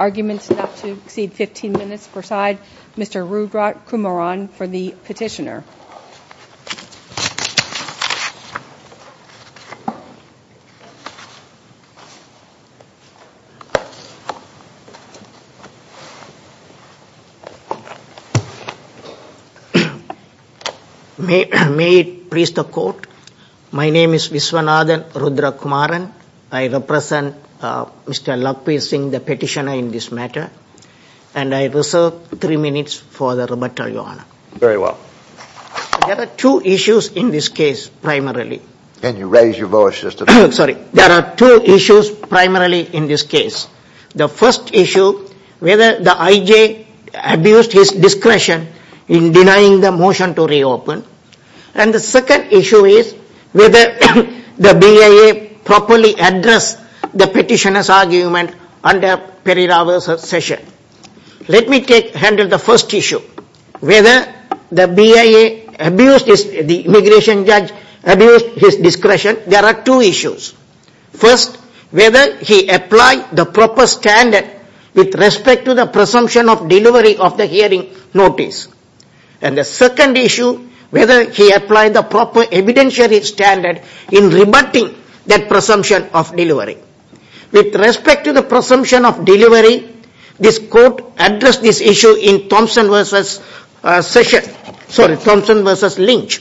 Arguments not to exceed 15 minutes, preside Mr. Rudrat Kumaran for the petitioner. May it please the court. My name is Viswanathan Rudrakumaran. I represent Mr. Lakhvir Singh, the petitioner in this matter, and I reserve three minutes for the rebuttal, Your Honor. There are two issues in this case primarily. There are two issues primarily in this case. The first issue, whether the IJ abused his discretion in denying the motion to reopen, and the second issue is whether the BIA properly addressed the petitioner's argument under Peri Rao's session. Let me handle the first issue. Whether the BIA abused his discretion, the immigration judge abused his discretion, there are two issues. First, whether he applied the proper standard with respect to the presumption of the hearing notice, and the second issue, whether he applied the proper evidentiary standard in rebutting that presumption of delivery. With respect to the presumption of delivery, this court addressed this issue in Thompson v. Lynch.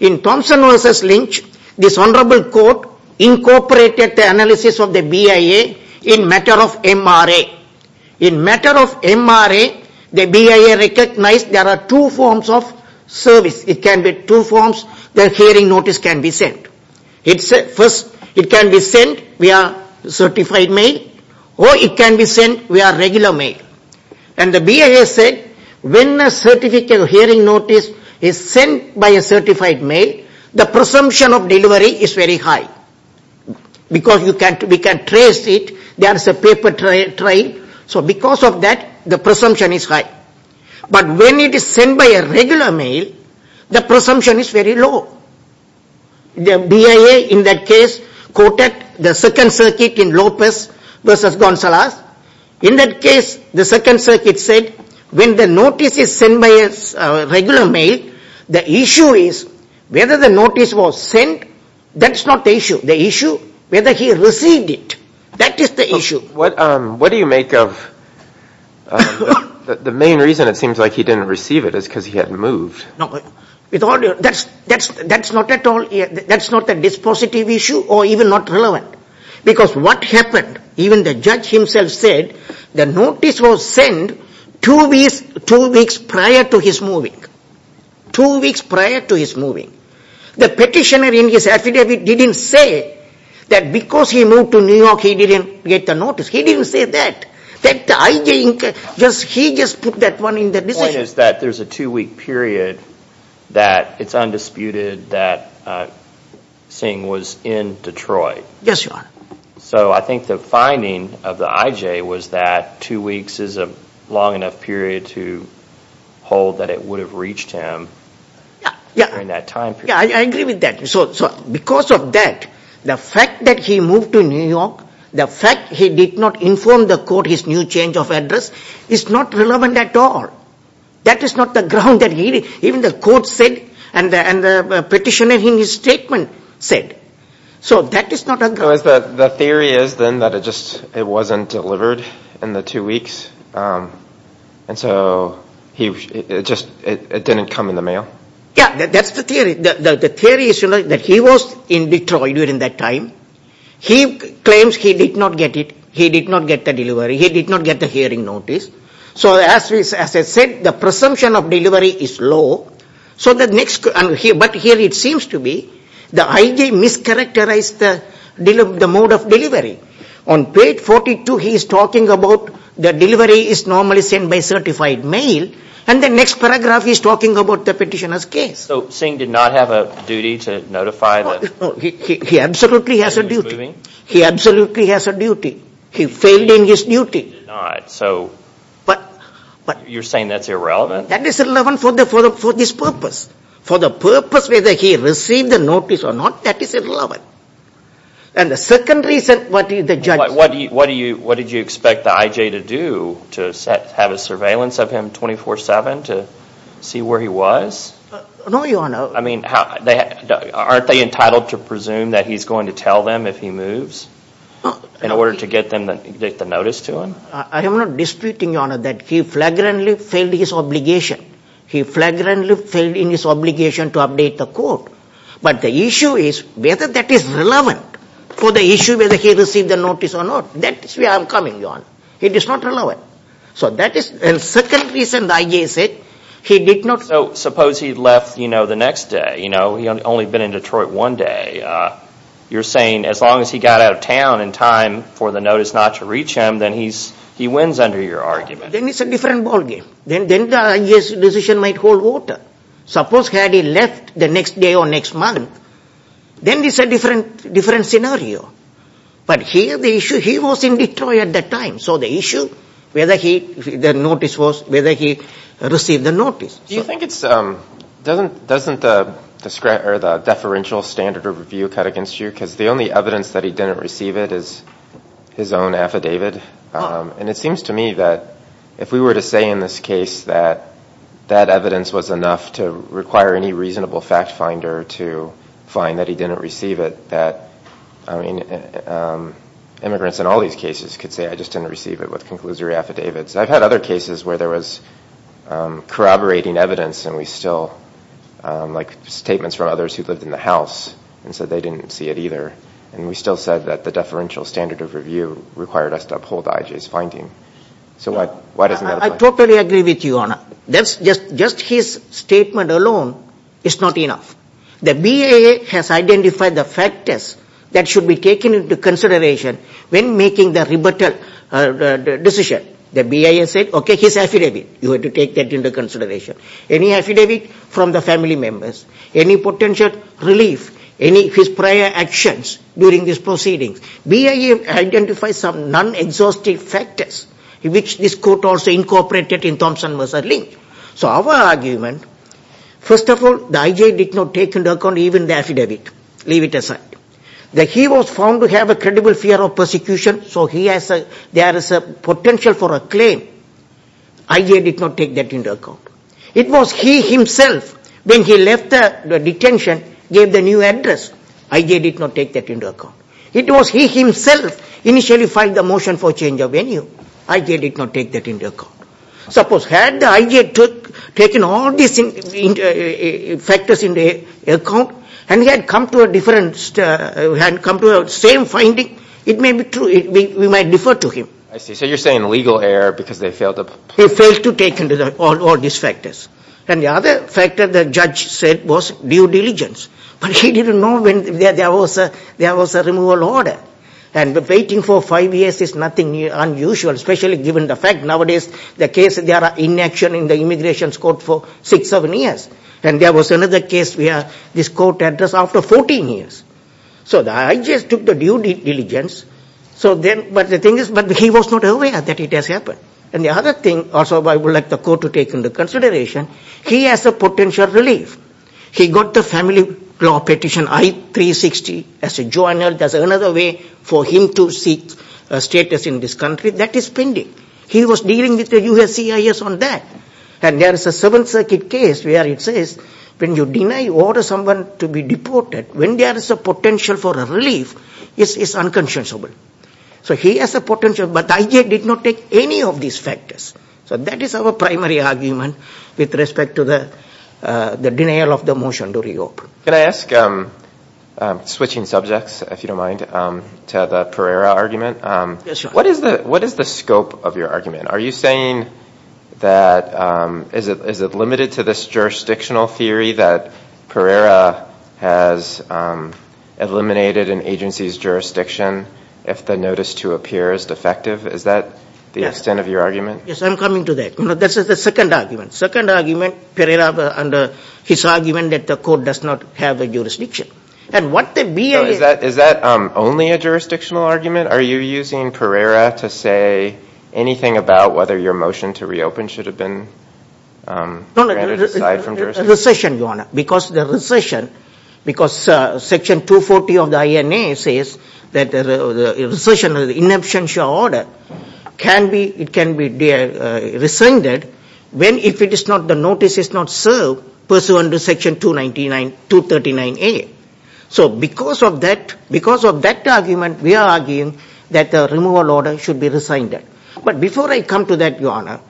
In Thompson v. Lynch, this Honorable Court incorporated the analysis of the BIA in the matter of MRA. In the matter of MRA, the BIA recognized there are two forms of service. There are two forms where a hearing notice can be sent. First, it can be sent via certified mail, or it can be sent via regular mail. And the BIA said when a hearing notice is sent by a certified mail, the presumption of delivery is very high because we can trace it. There is a paper trial. So because of that, the presumption is high. But when it is sent by a regular mail, the presumption is very low. The BIA in that case quoted the Second Circuit in Lopez v. Gonzalez. In that case, the Second Circuit said when the notice is sent by a regular mail, the issue is whether the notice was sent. That is not the issue. The issue is whether he received it. That is not the issue. The main reason it seems like he did not receive it is because he had moved. No. That is not at all. That is not a dispositive issue or even not relevant. Because what happened, even the judge himself said the notice was sent two weeks prior to his moving. Two weeks prior to his moving. The petitioner in his affidavit did not say that because he moved to New York, he did not get the notice. He did not say that. He just put that one in the decision. The point is that there is a two-week period that it is undisputed that Singh was in Detroit. Yes, Your Honor. So I think the finding of the IJ was that two weeks is a long enough period to hold that it would have reached him in that time period. I agree with that. Because of that, the fact that he moved to New York, the fact he did not inform the court his new change of address is not relevant at all. That is not the ground that he did. Even the court said and the petitioner in his statement said. So that is not a ground. The theory is then that it just wasn't delivered in the two weeks and so it didn't come in the mail? Yes, that is the theory. The theory is that he was in Detroit during that time. He claims he did not get it. He did not get the delivery. He did not get the hearing notice. So as I said, the presumption of delivery is low. But here it seems to be the IJ mischaracterized the mode of delivery. On page 42, he is talking about the delivery is normally sent by certified mail and the next paragraph he is talking about the petitioner's case. So Singh did not have a duty to notify? He absolutely has a duty. He absolutely has a duty. He failed in his duty. You are saying that is irrelevant? That is irrelevant for this purpose. For the purpose whether he received the notice or not, that is irrelevant. And the second reason, the judge. What did you expect the IJ to do to have a surveillance of him 24-7 to see where he was? No, Your Honor. I mean, aren't they entitled to presume that he is going to tell them if he moves in order to get the notice to him? I am not disputing, Your Honor, that he flagrantly failed his obligation. He flagrantly failed in his obligation to update the court. But the issue is whether that is relevant for the issue whether he received the notice or not. That is where I am coming, Your Honor. It is not relevant. So that is the second reason the IJ said he did not. Suppose he left the next day. He had only been in Detroit one day. You are saying as long as he got out of town in time for the notice not to reach him, then he wins under your argument. Then it is a different ballgame. Then the IJ's decision might hold water. Suppose had he left the next day or next month, then it is a different scenario. But here the issue he was in Detroit at that time. So the issue, whether he received the notice. Doesn't the deferential standard of review cut against you? Because the only evidence that he didn't receive it is his own affidavit. And it seems to me that if we were to say in this case that that evidence was enough to require any reasonable fact finder to find that he didn't receive it, that immigrants in all these cases could say I just didn't receive it with conclusory affidavits. I have had other cases where there was corroborating evidence and we still, like statements from others who lived in the house, and said they didn't see it either. And we still said that the deferential standard of review required us to uphold IJ's finding. I totally agree with you, Your Honor. Just his statement alone is not enough. The BIA has identified the factors that should be taken into consideration when making the rebuttal decision. The BIA said, okay, his affidavit. You have to take that into consideration. Any affidavit from the family members, any potential relief, any of his prior actions during this proceeding. BIA identifies some non-exhaustive factors, which this court also incorporated in Thompson v. Lynch. So our argument, first of all, the IJ did not take into account even the affidavit. Leave it aside. He was found to have a credible fear of persecution, so there is a potential for a claim. IJ did not take that into account. It was he himself, when he left the detention, gave the new address. IJ did not take that into account. It was he himself initially filed the motion for change of venue. IJ did not take that into account. Suppose had the IJ taken all these factors into account, and he had come to a different, had come to the same finding, it may be true, we might defer to him. I see. So you're saying legal error because they failed to... They failed to take into account all these factors. And the other factor, the judge said, was due diligence. But he didn't know when there was a removal order. And waiting for five years is nothing unusual, especially given the fact nowadays the case, they are inaction in the Immigration Court for six, seven years. And there was another case where this court addressed after 14 years. So the IJ took the due diligence. So then, but the thing is, but he was not aware that it has happened. And the other thing, also I would like the court to take into consideration, he has a potential relief. He got the family law petition I-360 as a journal. That's another way for him to seek a status in this country. That is pending. He was dealing with the USCIS on that. And there is a Seventh Circuit case where it says when you deny order someone to be deported, when there is a potential for a relief, it's unconscionable. So he has a potential, but IJ did not take any of these factors. So that is our primary argument with respect to the denial of the motion to reopen. Can I ask, switching subjects, if you don't mind, to the Pereira argument. What is the scope of your argument? Are you saying that, is it limited to this jurisdictional theory that Pereira has eliminated an agency's jurisdiction if the notice to appear is defective? Is that the extent of your argument? Yes, I'm coming to that. This is the second argument. Second argument, Pereira under his argument that the court does not have a jurisdiction. And what the BIA... Is that only a jurisdictional argument? Are you using Pereira to say anything about whether your motion to reopen should have been granted aside from jurisdiction? Recession, Your Honor. Because the recession, because Section 240 of the INA says that recession is an inabstantial order, it can be rescinded if the notice is not served pursuant to Section 239A. So because of that argument, we are arguing that the removal order should be rescinded. But before I come to that, Your Honor,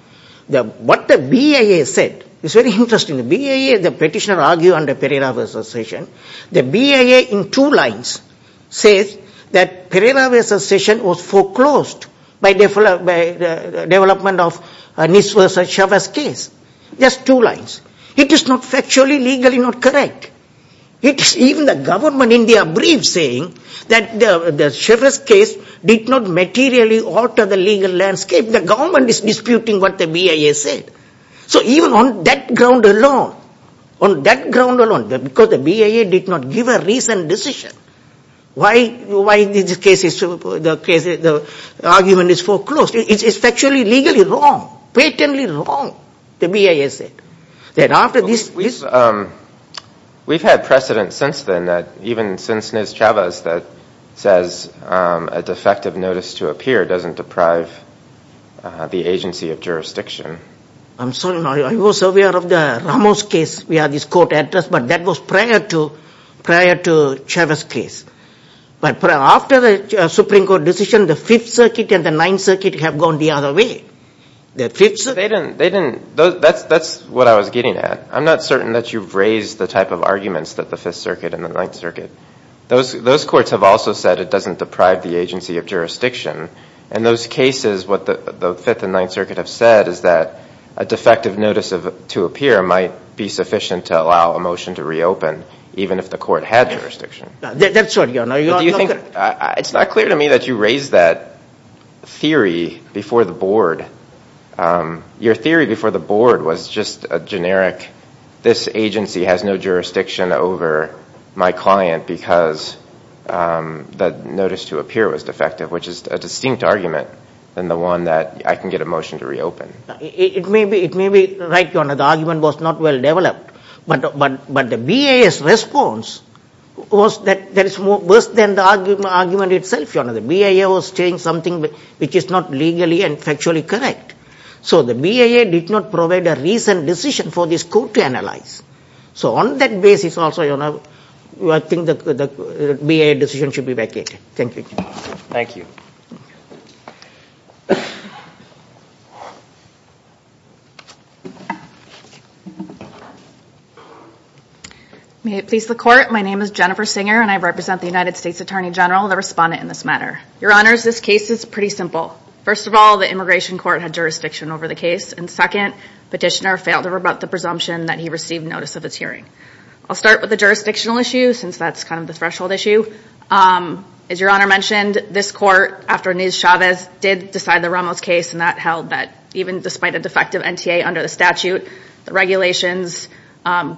what the BIA said is very interesting. The BIA, the petitioner argued under Pereira v. Session, the BIA in two lines says that Pereira v. Session was foreclosed by the development of Nis v. Chavez case. Just two lines. It is not factually, legally not correct. It's even the government in their brief saying that the Chavez case did not materially alter the legal landscape. The government is disputing what the BIA said. So even on that ground alone, on that ground alone, because the BIA did not give a reasoned decision why the case is, the argument is foreclosed, it is factually, legally wrong, patently wrong, the BIA said. We've had precedent since then that even since Nis Chavez that says a defective notice to appear doesn't deprive the agency of jurisdiction. I'm sorry. I was aware of the Ramos case. We have this court address. But that was prior to Chavez case. But after the Supreme Court decision, the Fifth Circuit and the Ninth Circuit have gone the other way. The Fifth Circuit They didn't. That's what I was getting at. I'm not certain that you've raised the type of arguments that the Fifth Circuit and the Ninth Circuit. Those courts have also said it doesn't deprive the agency of jurisdiction. In those cases, what the Fifth and Ninth Circuit have said is that a defective notice to appear might be sufficient to allow a motion to reopen even if the court had jurisdiction. That's right. But do you think, it's not clear to me that you raised that theory before the board. Your theory before the board was just a generic, this agency has no jurisdiction over my client because the notice to appear was defective, which is a distinct argument than the one that I can get a motion to reopen. It may be right. The argument was not well developed. But the BIA's response was that it's worse than the argument itself. The BIA was saying something which is not legally and factually correct. So the BIA did not provide a reasoned decision for this court to analyze. So on that basis, I think the BIA decision should be vacated. Thank you. Thank you. May it please the court, my name is Jennifer Singer and I represent the United States Attorney General, the respondent in this matter. Your honors, this case is pretty simple. First of all, the immigration court had jurisdiction over the case. And second, petitioner failed to rebut the presumption that he received notice of his hearing. I'll start with the jurisdictional issue since that's kind of the threshold issue. As your honor mentioned, this court, after Niz Chavez, did decide the Ramos case and that held that even despite a defective NTA under the statute, the regulations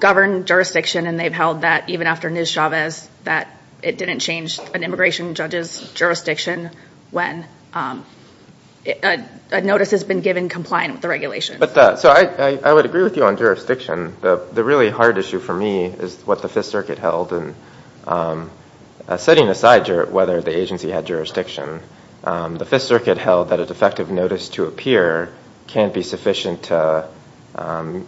govern jurisdiction and they've held that even after Niz Chavez, that it didn't change an immigration judge's jurisdiction when a notice has been given compliant with the regulation. So I would agree with you on jurisdiction. The really hard issue for me is what the Fifth Circuit, setting aside whether the agency had jurisdiction, the Fifth Circuit held that a defective notice to appear can't be sufficient to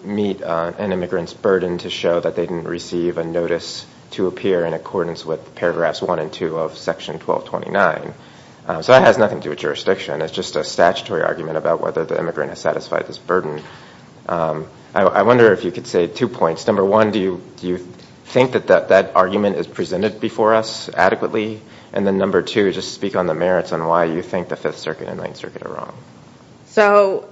meet an immigrant's burden to show that they didn't receive a notice to appear in accordance with paragraphs one and two of section 1229. So that has nothing to do with jurisdiction. It's just a statutory argument about whether the immigrant has satisfied this burden. I wonder if you could say two before us adequately, and then number two, just speak on the merits on why you think the Fifth Circuit and Ninth Circuit are wrong. So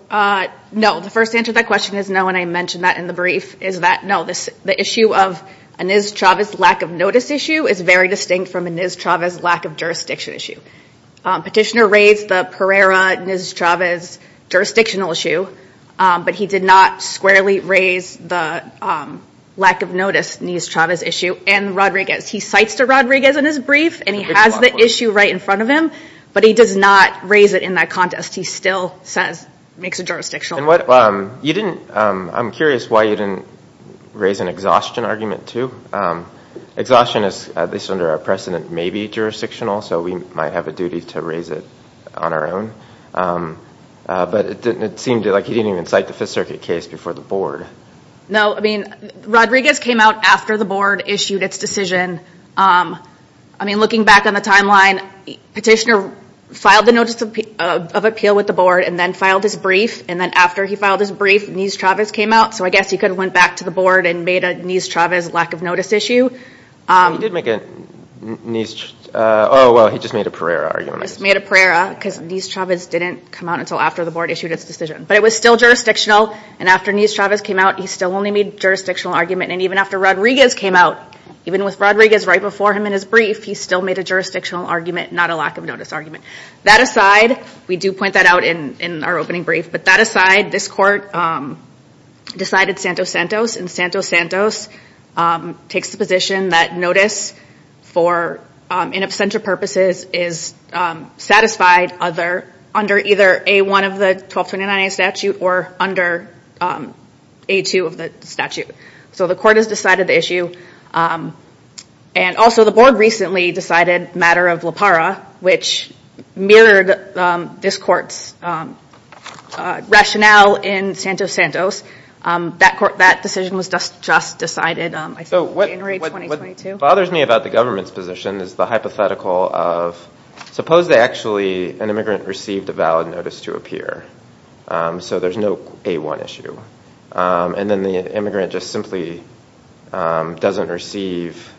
no, the first answer to that question is no, and I mentioned that in the brief, is that no, the issue of a Niz Chavez lack of notice issue is very distinct from a Niz Chavez lack of jurisdiction issue. Petitioner raised the Pereira-Niz Chavez jurisdictional issue, but he did not squarely raise the lack of notice Niz Chavez issue. And Rodriguez, he cites to Rodriguez in his brief, and he has the issue right in front of him, but he does not raise it in that contest. He still says, makes a jurisdictional point. I'm curious why you didn't raise an exhaustion argument too. Exhaustion is, at least under our precedent, may be jurisdictional, so we might have a duty to raise it on our own. But it seemed like he didn't even cite the Fifth Circuit case before the board. No, I mean, Rodriguez came out after the board issued its decision. I mean, looking back on the timeline, Petitioner filed the notice of appeal with the board and then filed his brief, and then after he filed his brief, Niz Chavez came out, so I guess he could have went back to the board and made a Niz Chavez lack of notice issue. He did make a Niz, oh, well, he just made a Pereira argument. He just made a Pereira, because Niz Chavez didn't come out until after the board issued its decision, but it was still jurisdictional, and after Niz Chavez came out, he still only made a jurisdictional argument, and even after Rodriguez came out, even with Rodriguez right before him in his brief, he still made a jurisdictional argument, not a lack of notice argument. That aside, we do point that out in our opening brief, but that aside, this court decided Santos-Santos, and Santos-Santos takes the position that notice for in absentia purposes is satisfied under either A-1 of the 1229A statute or under A-2 of the statute, so the court has decided the issue, and also the board recently decided the matter of La Parra, which mirrored this court's rationale in Santos-Santos. That decision was just decided, I think, in January 2022. What bothers me about the government's position is the hypothetical of, suppose they actually, an immigrant received a valid notice to appear, so there's no A-1 issue, and then the immigrant just simply doesn't receive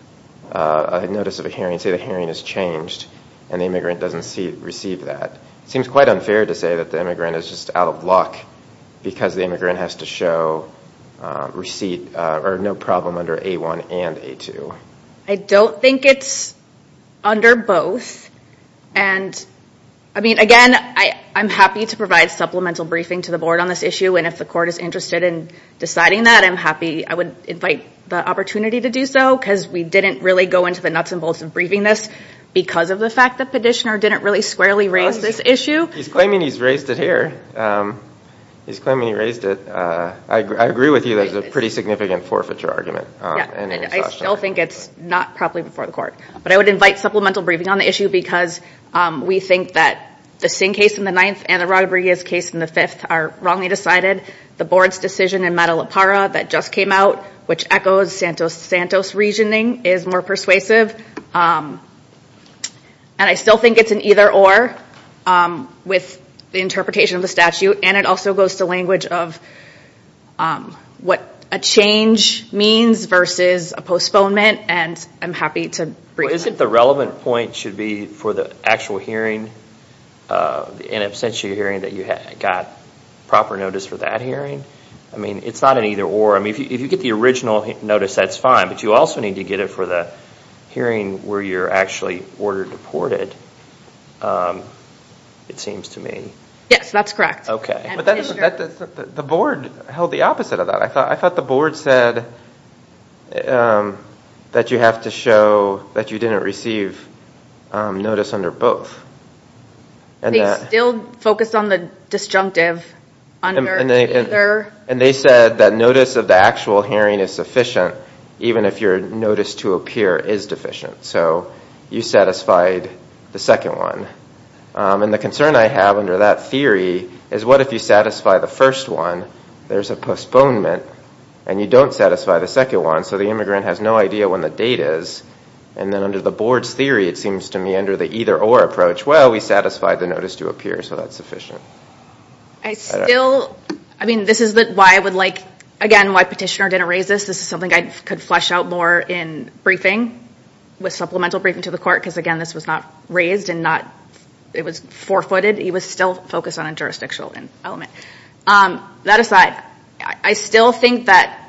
a notice of a hearing, say the hearing is changed, and the immigrant doesn't receive that. It seems quite unfair to say that the immigrant is just out of luck, because the immigrant has to show receipt, or no problem under A-1 and A-2. I don't think it's under both, and again, I'm happy to provide supplemental briefing to the board on this issue, and if the court is interested in deciding that, I'm happy, I would invite the opportunity to do so, because we didn't really go into the nuts and bolts of briefing this because of the fact that Petitioner didn't really squarely raise this issue. He's claiming he's raised it here. He's claiming he raised it. I agree with you that it's a pretty significant forfeiture argument. I still think it's not properly before the court, but I would invite supplemental briefing on the issue, because we think that the Singh case in the ninth and the Rodriguez case in the fifth are wrongly decided. The board's decision in Matalapara that just came out, which echoes Santos' reasoning, is more persuasive, and I still think it's an either-or with the interpretation of the statute, and it also goes to language of what a change means versus a postponement, and I'm happy to brief on that. Isn't the relevant point should be for the actual hearing, the in absentia hearing, that you got proper notice for that hearing? It's not an either-or. If you get the original notice, that's fine, but you also need to get it for the hearing where you're actually ordered deported, it seems to me. Yes, that's correct. Okay. But the board held the opposite of that. I thought the board said that you have to show that you didn't receive notice under both. They still focused on the disjunctive under either. And they said that notice of the actual hearing is sufficient even if your notice to appear is deficient, so you satisfied the second one. And the concern I have under that theory is what if you satisfy the first one, there's a postponement, and you don't satisfy the second one, so the immigrant has no idea when the date is, and then under the board's theory, it seems to me under the either-or approach, well, we satisfied the notice to appear, so that's sufficient. I still, I mean, this is why I would like, again, why petitioner didn't raise this. This is something I could flesh out more in briefing with supplemental briefing to the It was forefooted. He was still focused on a jurisdictional element. That aside, I still think that,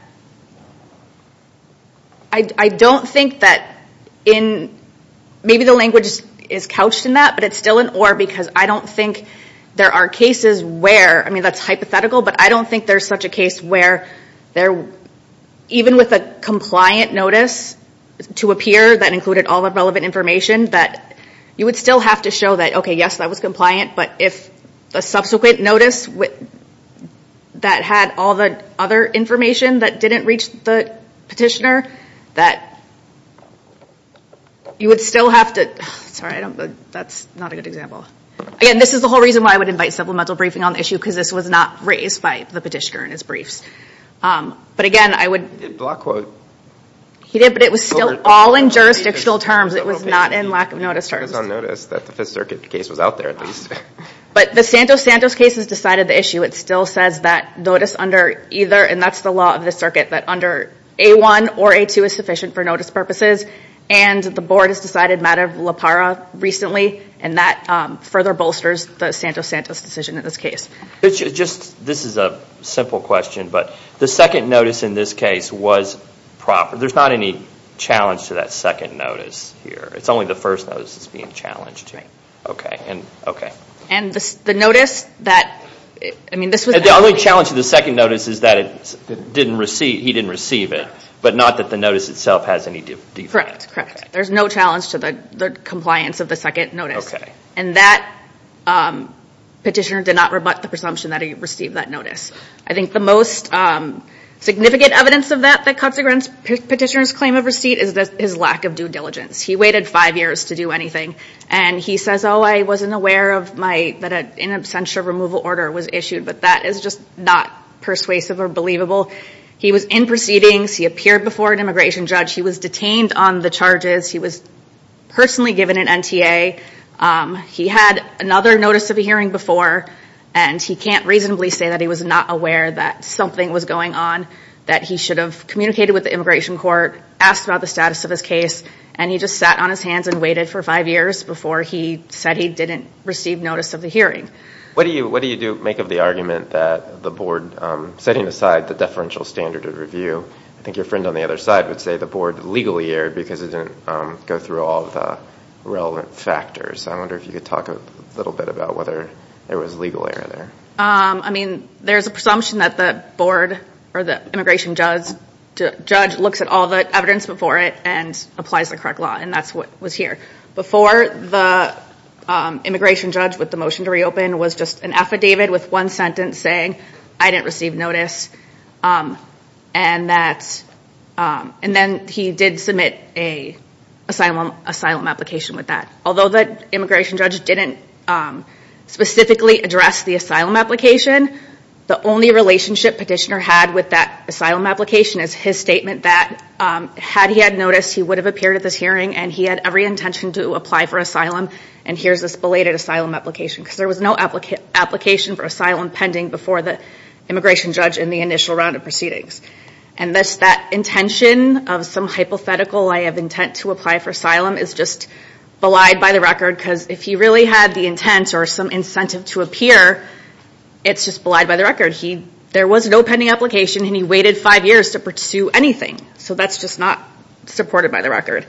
I don't think that in, maybe the language is couched in that, but it's still an or because I don't think there are cases where, I mean, that's hypothetical, but I don't think there's such a case where even with a compliant notice to appear that included all the relevant information, that you would still have to show that, okay, yes, that was compliant, but if the subsequent notice that had all the other information that didn't reach the petitioner, that you would still have to, sorry, I don't, that's not a good example. Again, this is the whole reason why I would invite supplemental briefing on the issue, because this was not raised by the petitioner in his briefs. But again, I would. He did block quote. He did, but it was still all in jurisdictional terms. It was not in lack of notice terms. It was on notice that the Fifth Circuit case was out there at least. But the Santos Santos case has decided the issue. It still says that notice under either, and that's the law of the circuit, that under A1 or A2 is sufficient for notice purposes, and the board has decided matter of la para recently, and that further bolsters the Santos Santos decision in this case. It's just, this is a simple question, but the second notice in this case was proper. There's not any challenge to that second notice here. It's only the first notice that's being challenged here. Right. Okay. Okay. And the notice that, I mean, this was. The only challenge to the second notice is that it didn't receive, he didn't receive it, but not that the notice itself has any defect. Correct. Correct. There's no challenge to the compliance of the second notice, and that petitioner did not rebut the presumption that he received that notice. I think the most significant evidence of that, that cuts a petitioner's claim of receipt, is his lack of due diligence. He waited five years to do anything, and he says, oh, I wasn't aware that an in absentia removal order was issued, but that is just not persuasive or believable. He was in proceedings. He appeared before an immigration judge. He was detained on the charges. He was personally given an NTA. He had another notice of a hearing before, and he can't reasonably say that he was not aware that something was going on, that he should have communicated with the immigration court, asked about the status of his case, and he just sat on his hands and waited for five years before he said he didn't receive notice of the hearing. What do you do, make of the argument that the board, setting aside the deferential standard of review, I think your friend on the other side would say the board legally erred because it didn't go through all of the relevant factors. I wonder if you could talk a little bit about whether there was legal error there. I mean, there's a presumption that the board, or the immigration judge, looks at all the evidence before it and applies the correct law, and that's what was here. Before the immigration judge, with the motion to reopen, was just an affidavit with one the asylum application with that. Although the immigration judge didn't specifically address the asylum application, the only relationship petitioner had with that asylum application is his statement that had he had noticed, he would have appeared at this hearing, and he had every intention to apply for asylum, and here's this belated asylum application, because there was no application for asylum pending before the immigration judge in the initial round of proceedings. And that intention of some hypothetical, I have intent to apply for asylum, is just belied by the record, because if he really had the intent or some incentive to appear, it's just belied by the record. There was no pending application, and he waited five years to pursue anything. So that's just not supported by the record.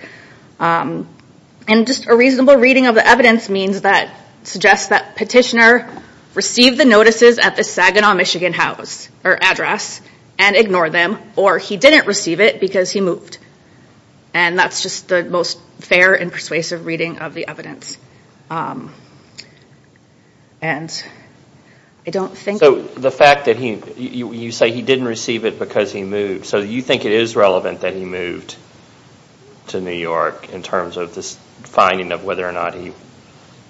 And just a reasonable reading of the evidence means that, suggests that petitioner received the notices at the Saginaw, Michigan house, or address, and ignored them, or he didn't receive it because he moved. And that's just the most fair and persuasive reading of the evidence. And I don't think- So the fact that you say he didn't receive it because he moved, so you think it is relevant that he moved to New York in terms of this finding of whether or not he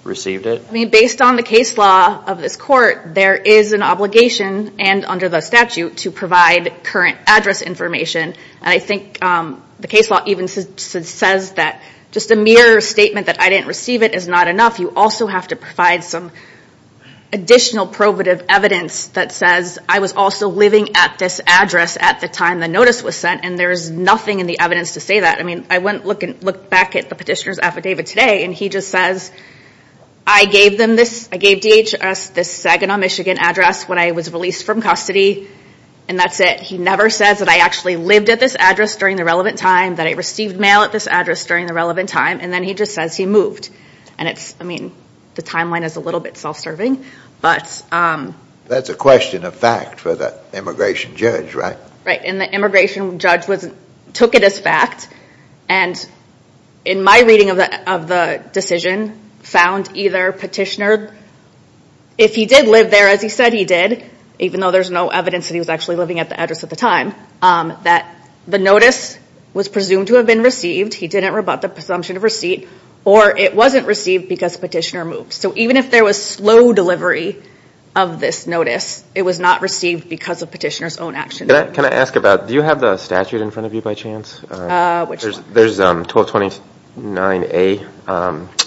received it? I mean, based on the case law of this court, there is an obligation, and under the statute, to provide current address information, and I think the case law even says that just a mere statement that I didn't receive it is not enough. You also have to provide some additional probative evidence that says I was also living at this address at the time the notice was sent, and there's nothing in the evidence to say that. I mean, I went and looked back at the petitioner's affidavit today, and he just says, I gave them this, I gave DHS this Saginaw, Michigan address when I was released from custody, and that's it. He never says that I actually lived at this address during the relevant time, that I received mail at this address during the relevant time, and then he just says he moved. And it's, I mean, the timeline is a little bit self-serving, but- That's a question of fact for the immigration judge, right? Right. And the immigration judge took it as fact, and in my reading of the decision, found either petitioner, if he did live there, as he said he did, even though there's no evidence that he was actually living at the address at the time, that the notice was presumed to have been received, he didn't rebut the presumption of receipt, or it wasn't received because petitioner moved. So even if there was slow delivery of this notice, it was not received because of petitioner's own actions. Can I ask about, do you have the statute in front of you by chance? Which one? There's 1229A.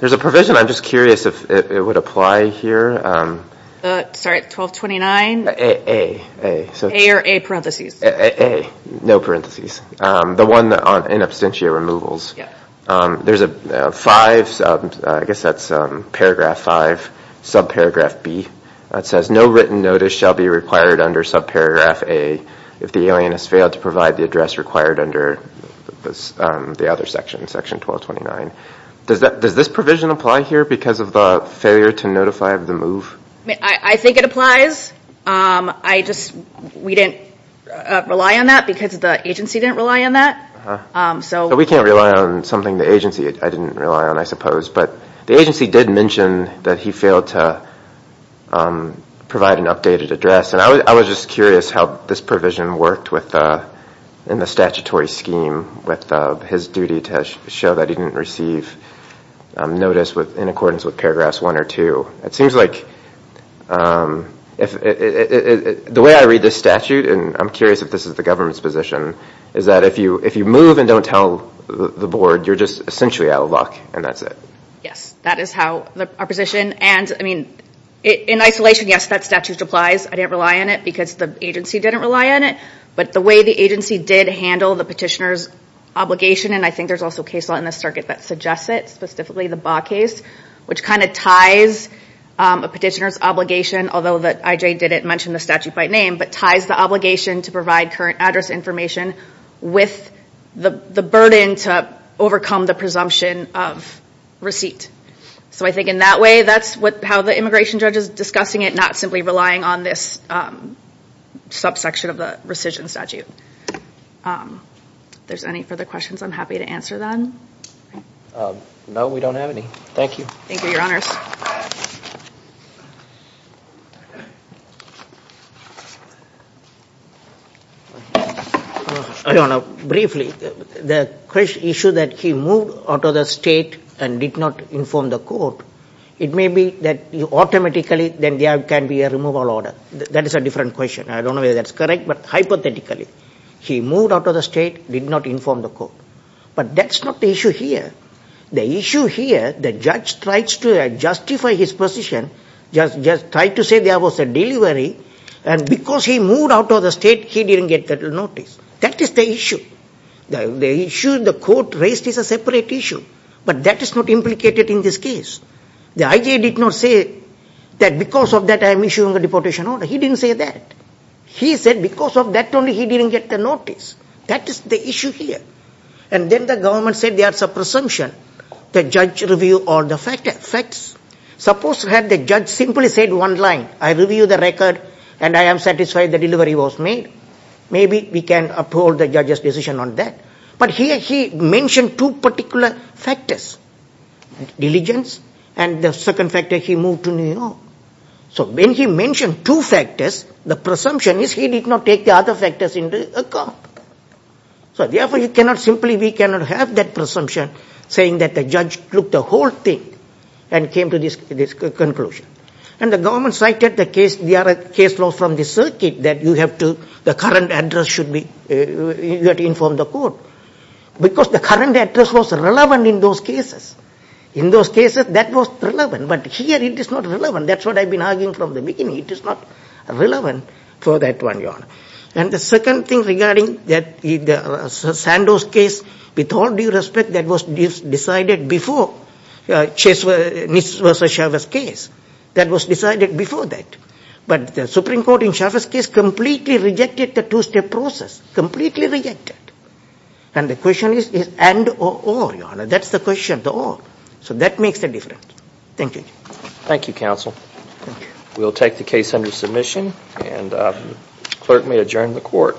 There's a provision, I'm just curious if it would apply here. Sorry, 1229? A. A or A parentheses? A, no parentheses. The one on in absentia removals. There's a five, I guess that's paragraph five, subparagraph B, that says no written notice shall be required under subparagraph A if the alien has failed to provide the address required under the other section, section 1229. Does this provision apply here because of the failure to notify of the move? I think it applies. We didn't rely on that because the agency didn't rely on that. We can't rely on something the agency, I didn't rely on I suppose, but the agency did mention that he failed to provide an updated address. I was just curious how this provision worked in the statutory scheme with his duty to show that he didn't receive notice in accordance with paragraphs one or two. It seems like, the way I read this statute, and I'm curious if this is the government's position, is that if you move and don't tell the board, you're just essentially out of luck and that's it. Yes. That is our position. In isolation, yes, that statute applies. I didn't rely on it because the agency didn't rely on it, but the way the agency did handle the petitioner's obligation, and I think there's also case law in this circuit that suggests it, specifically the Baugh case, which kind of ties a petitioner's obligation, although that I.J. didn't mention the statute by name, but ties the obligation to provide current presumption of receipt. So I think in that way, that's how the immigration judge is discussing it, not simply relying on this subsection of the rescission statute. There's any further questions I'm happy to answer then? No, we don't have any. Thank you. Thank you, your honors. Your honor, briefly, the issue that he moved out of the state and did not inform the court, it may be that automatically there can be a removal order. That is a different question. I don't know whether that's correct, but hypothetically, he moved out of the state, did not inform the court. But that's not the issue here. The issue here, the judge tries to justify his position, tried to say there was a delivery, and because he moved out of the state, he didn't get that notice. That is the issue. The issue the court raised is a separate issue. But that is not implicated in this case. The I.J. did not say that because of that, I am issuing a deportation order. He didn't say that. He said because of that only, he didn't get the notice. That is the issue here. And then the government said there's a presumption the judge review all the facts. Suppose had the judge simply said one line, I review the record, and I am satisfied the delivery was made, maybe we can uphold the judge's decision on that. But here he mentioned two particular factors, diligence, and the second factor, he moved to New York. So when he mentioned two factors, the presumption is he did not take the other factors into account. So therefore, you cannot simply, we cannot have that presumption saying that the judge took the whole thing and came to this conclusion. And the government cited the case law from the circuit that you have to, the current address should be, you have to inform the court. Because the current address was relevant in those cases. In those cases, that was relevant, but here it is not relevant. That's what I've been arguing from the beginning, it is not relevant for that one, Your Honor. And the second thing regarding that Sandor's case, with all due respect, that was decided before Nist v. Chavez's case. That was decided before that. But the Supreme Court in Chavez's case completely rejected the two-step process, completely rejected. And the question is, and or, Your Honor? That's the question, the or. So that makes the difference. Thank you. Thank you, Counsel. Thank you. We will take the case under submission and the clerk may adjourn the court.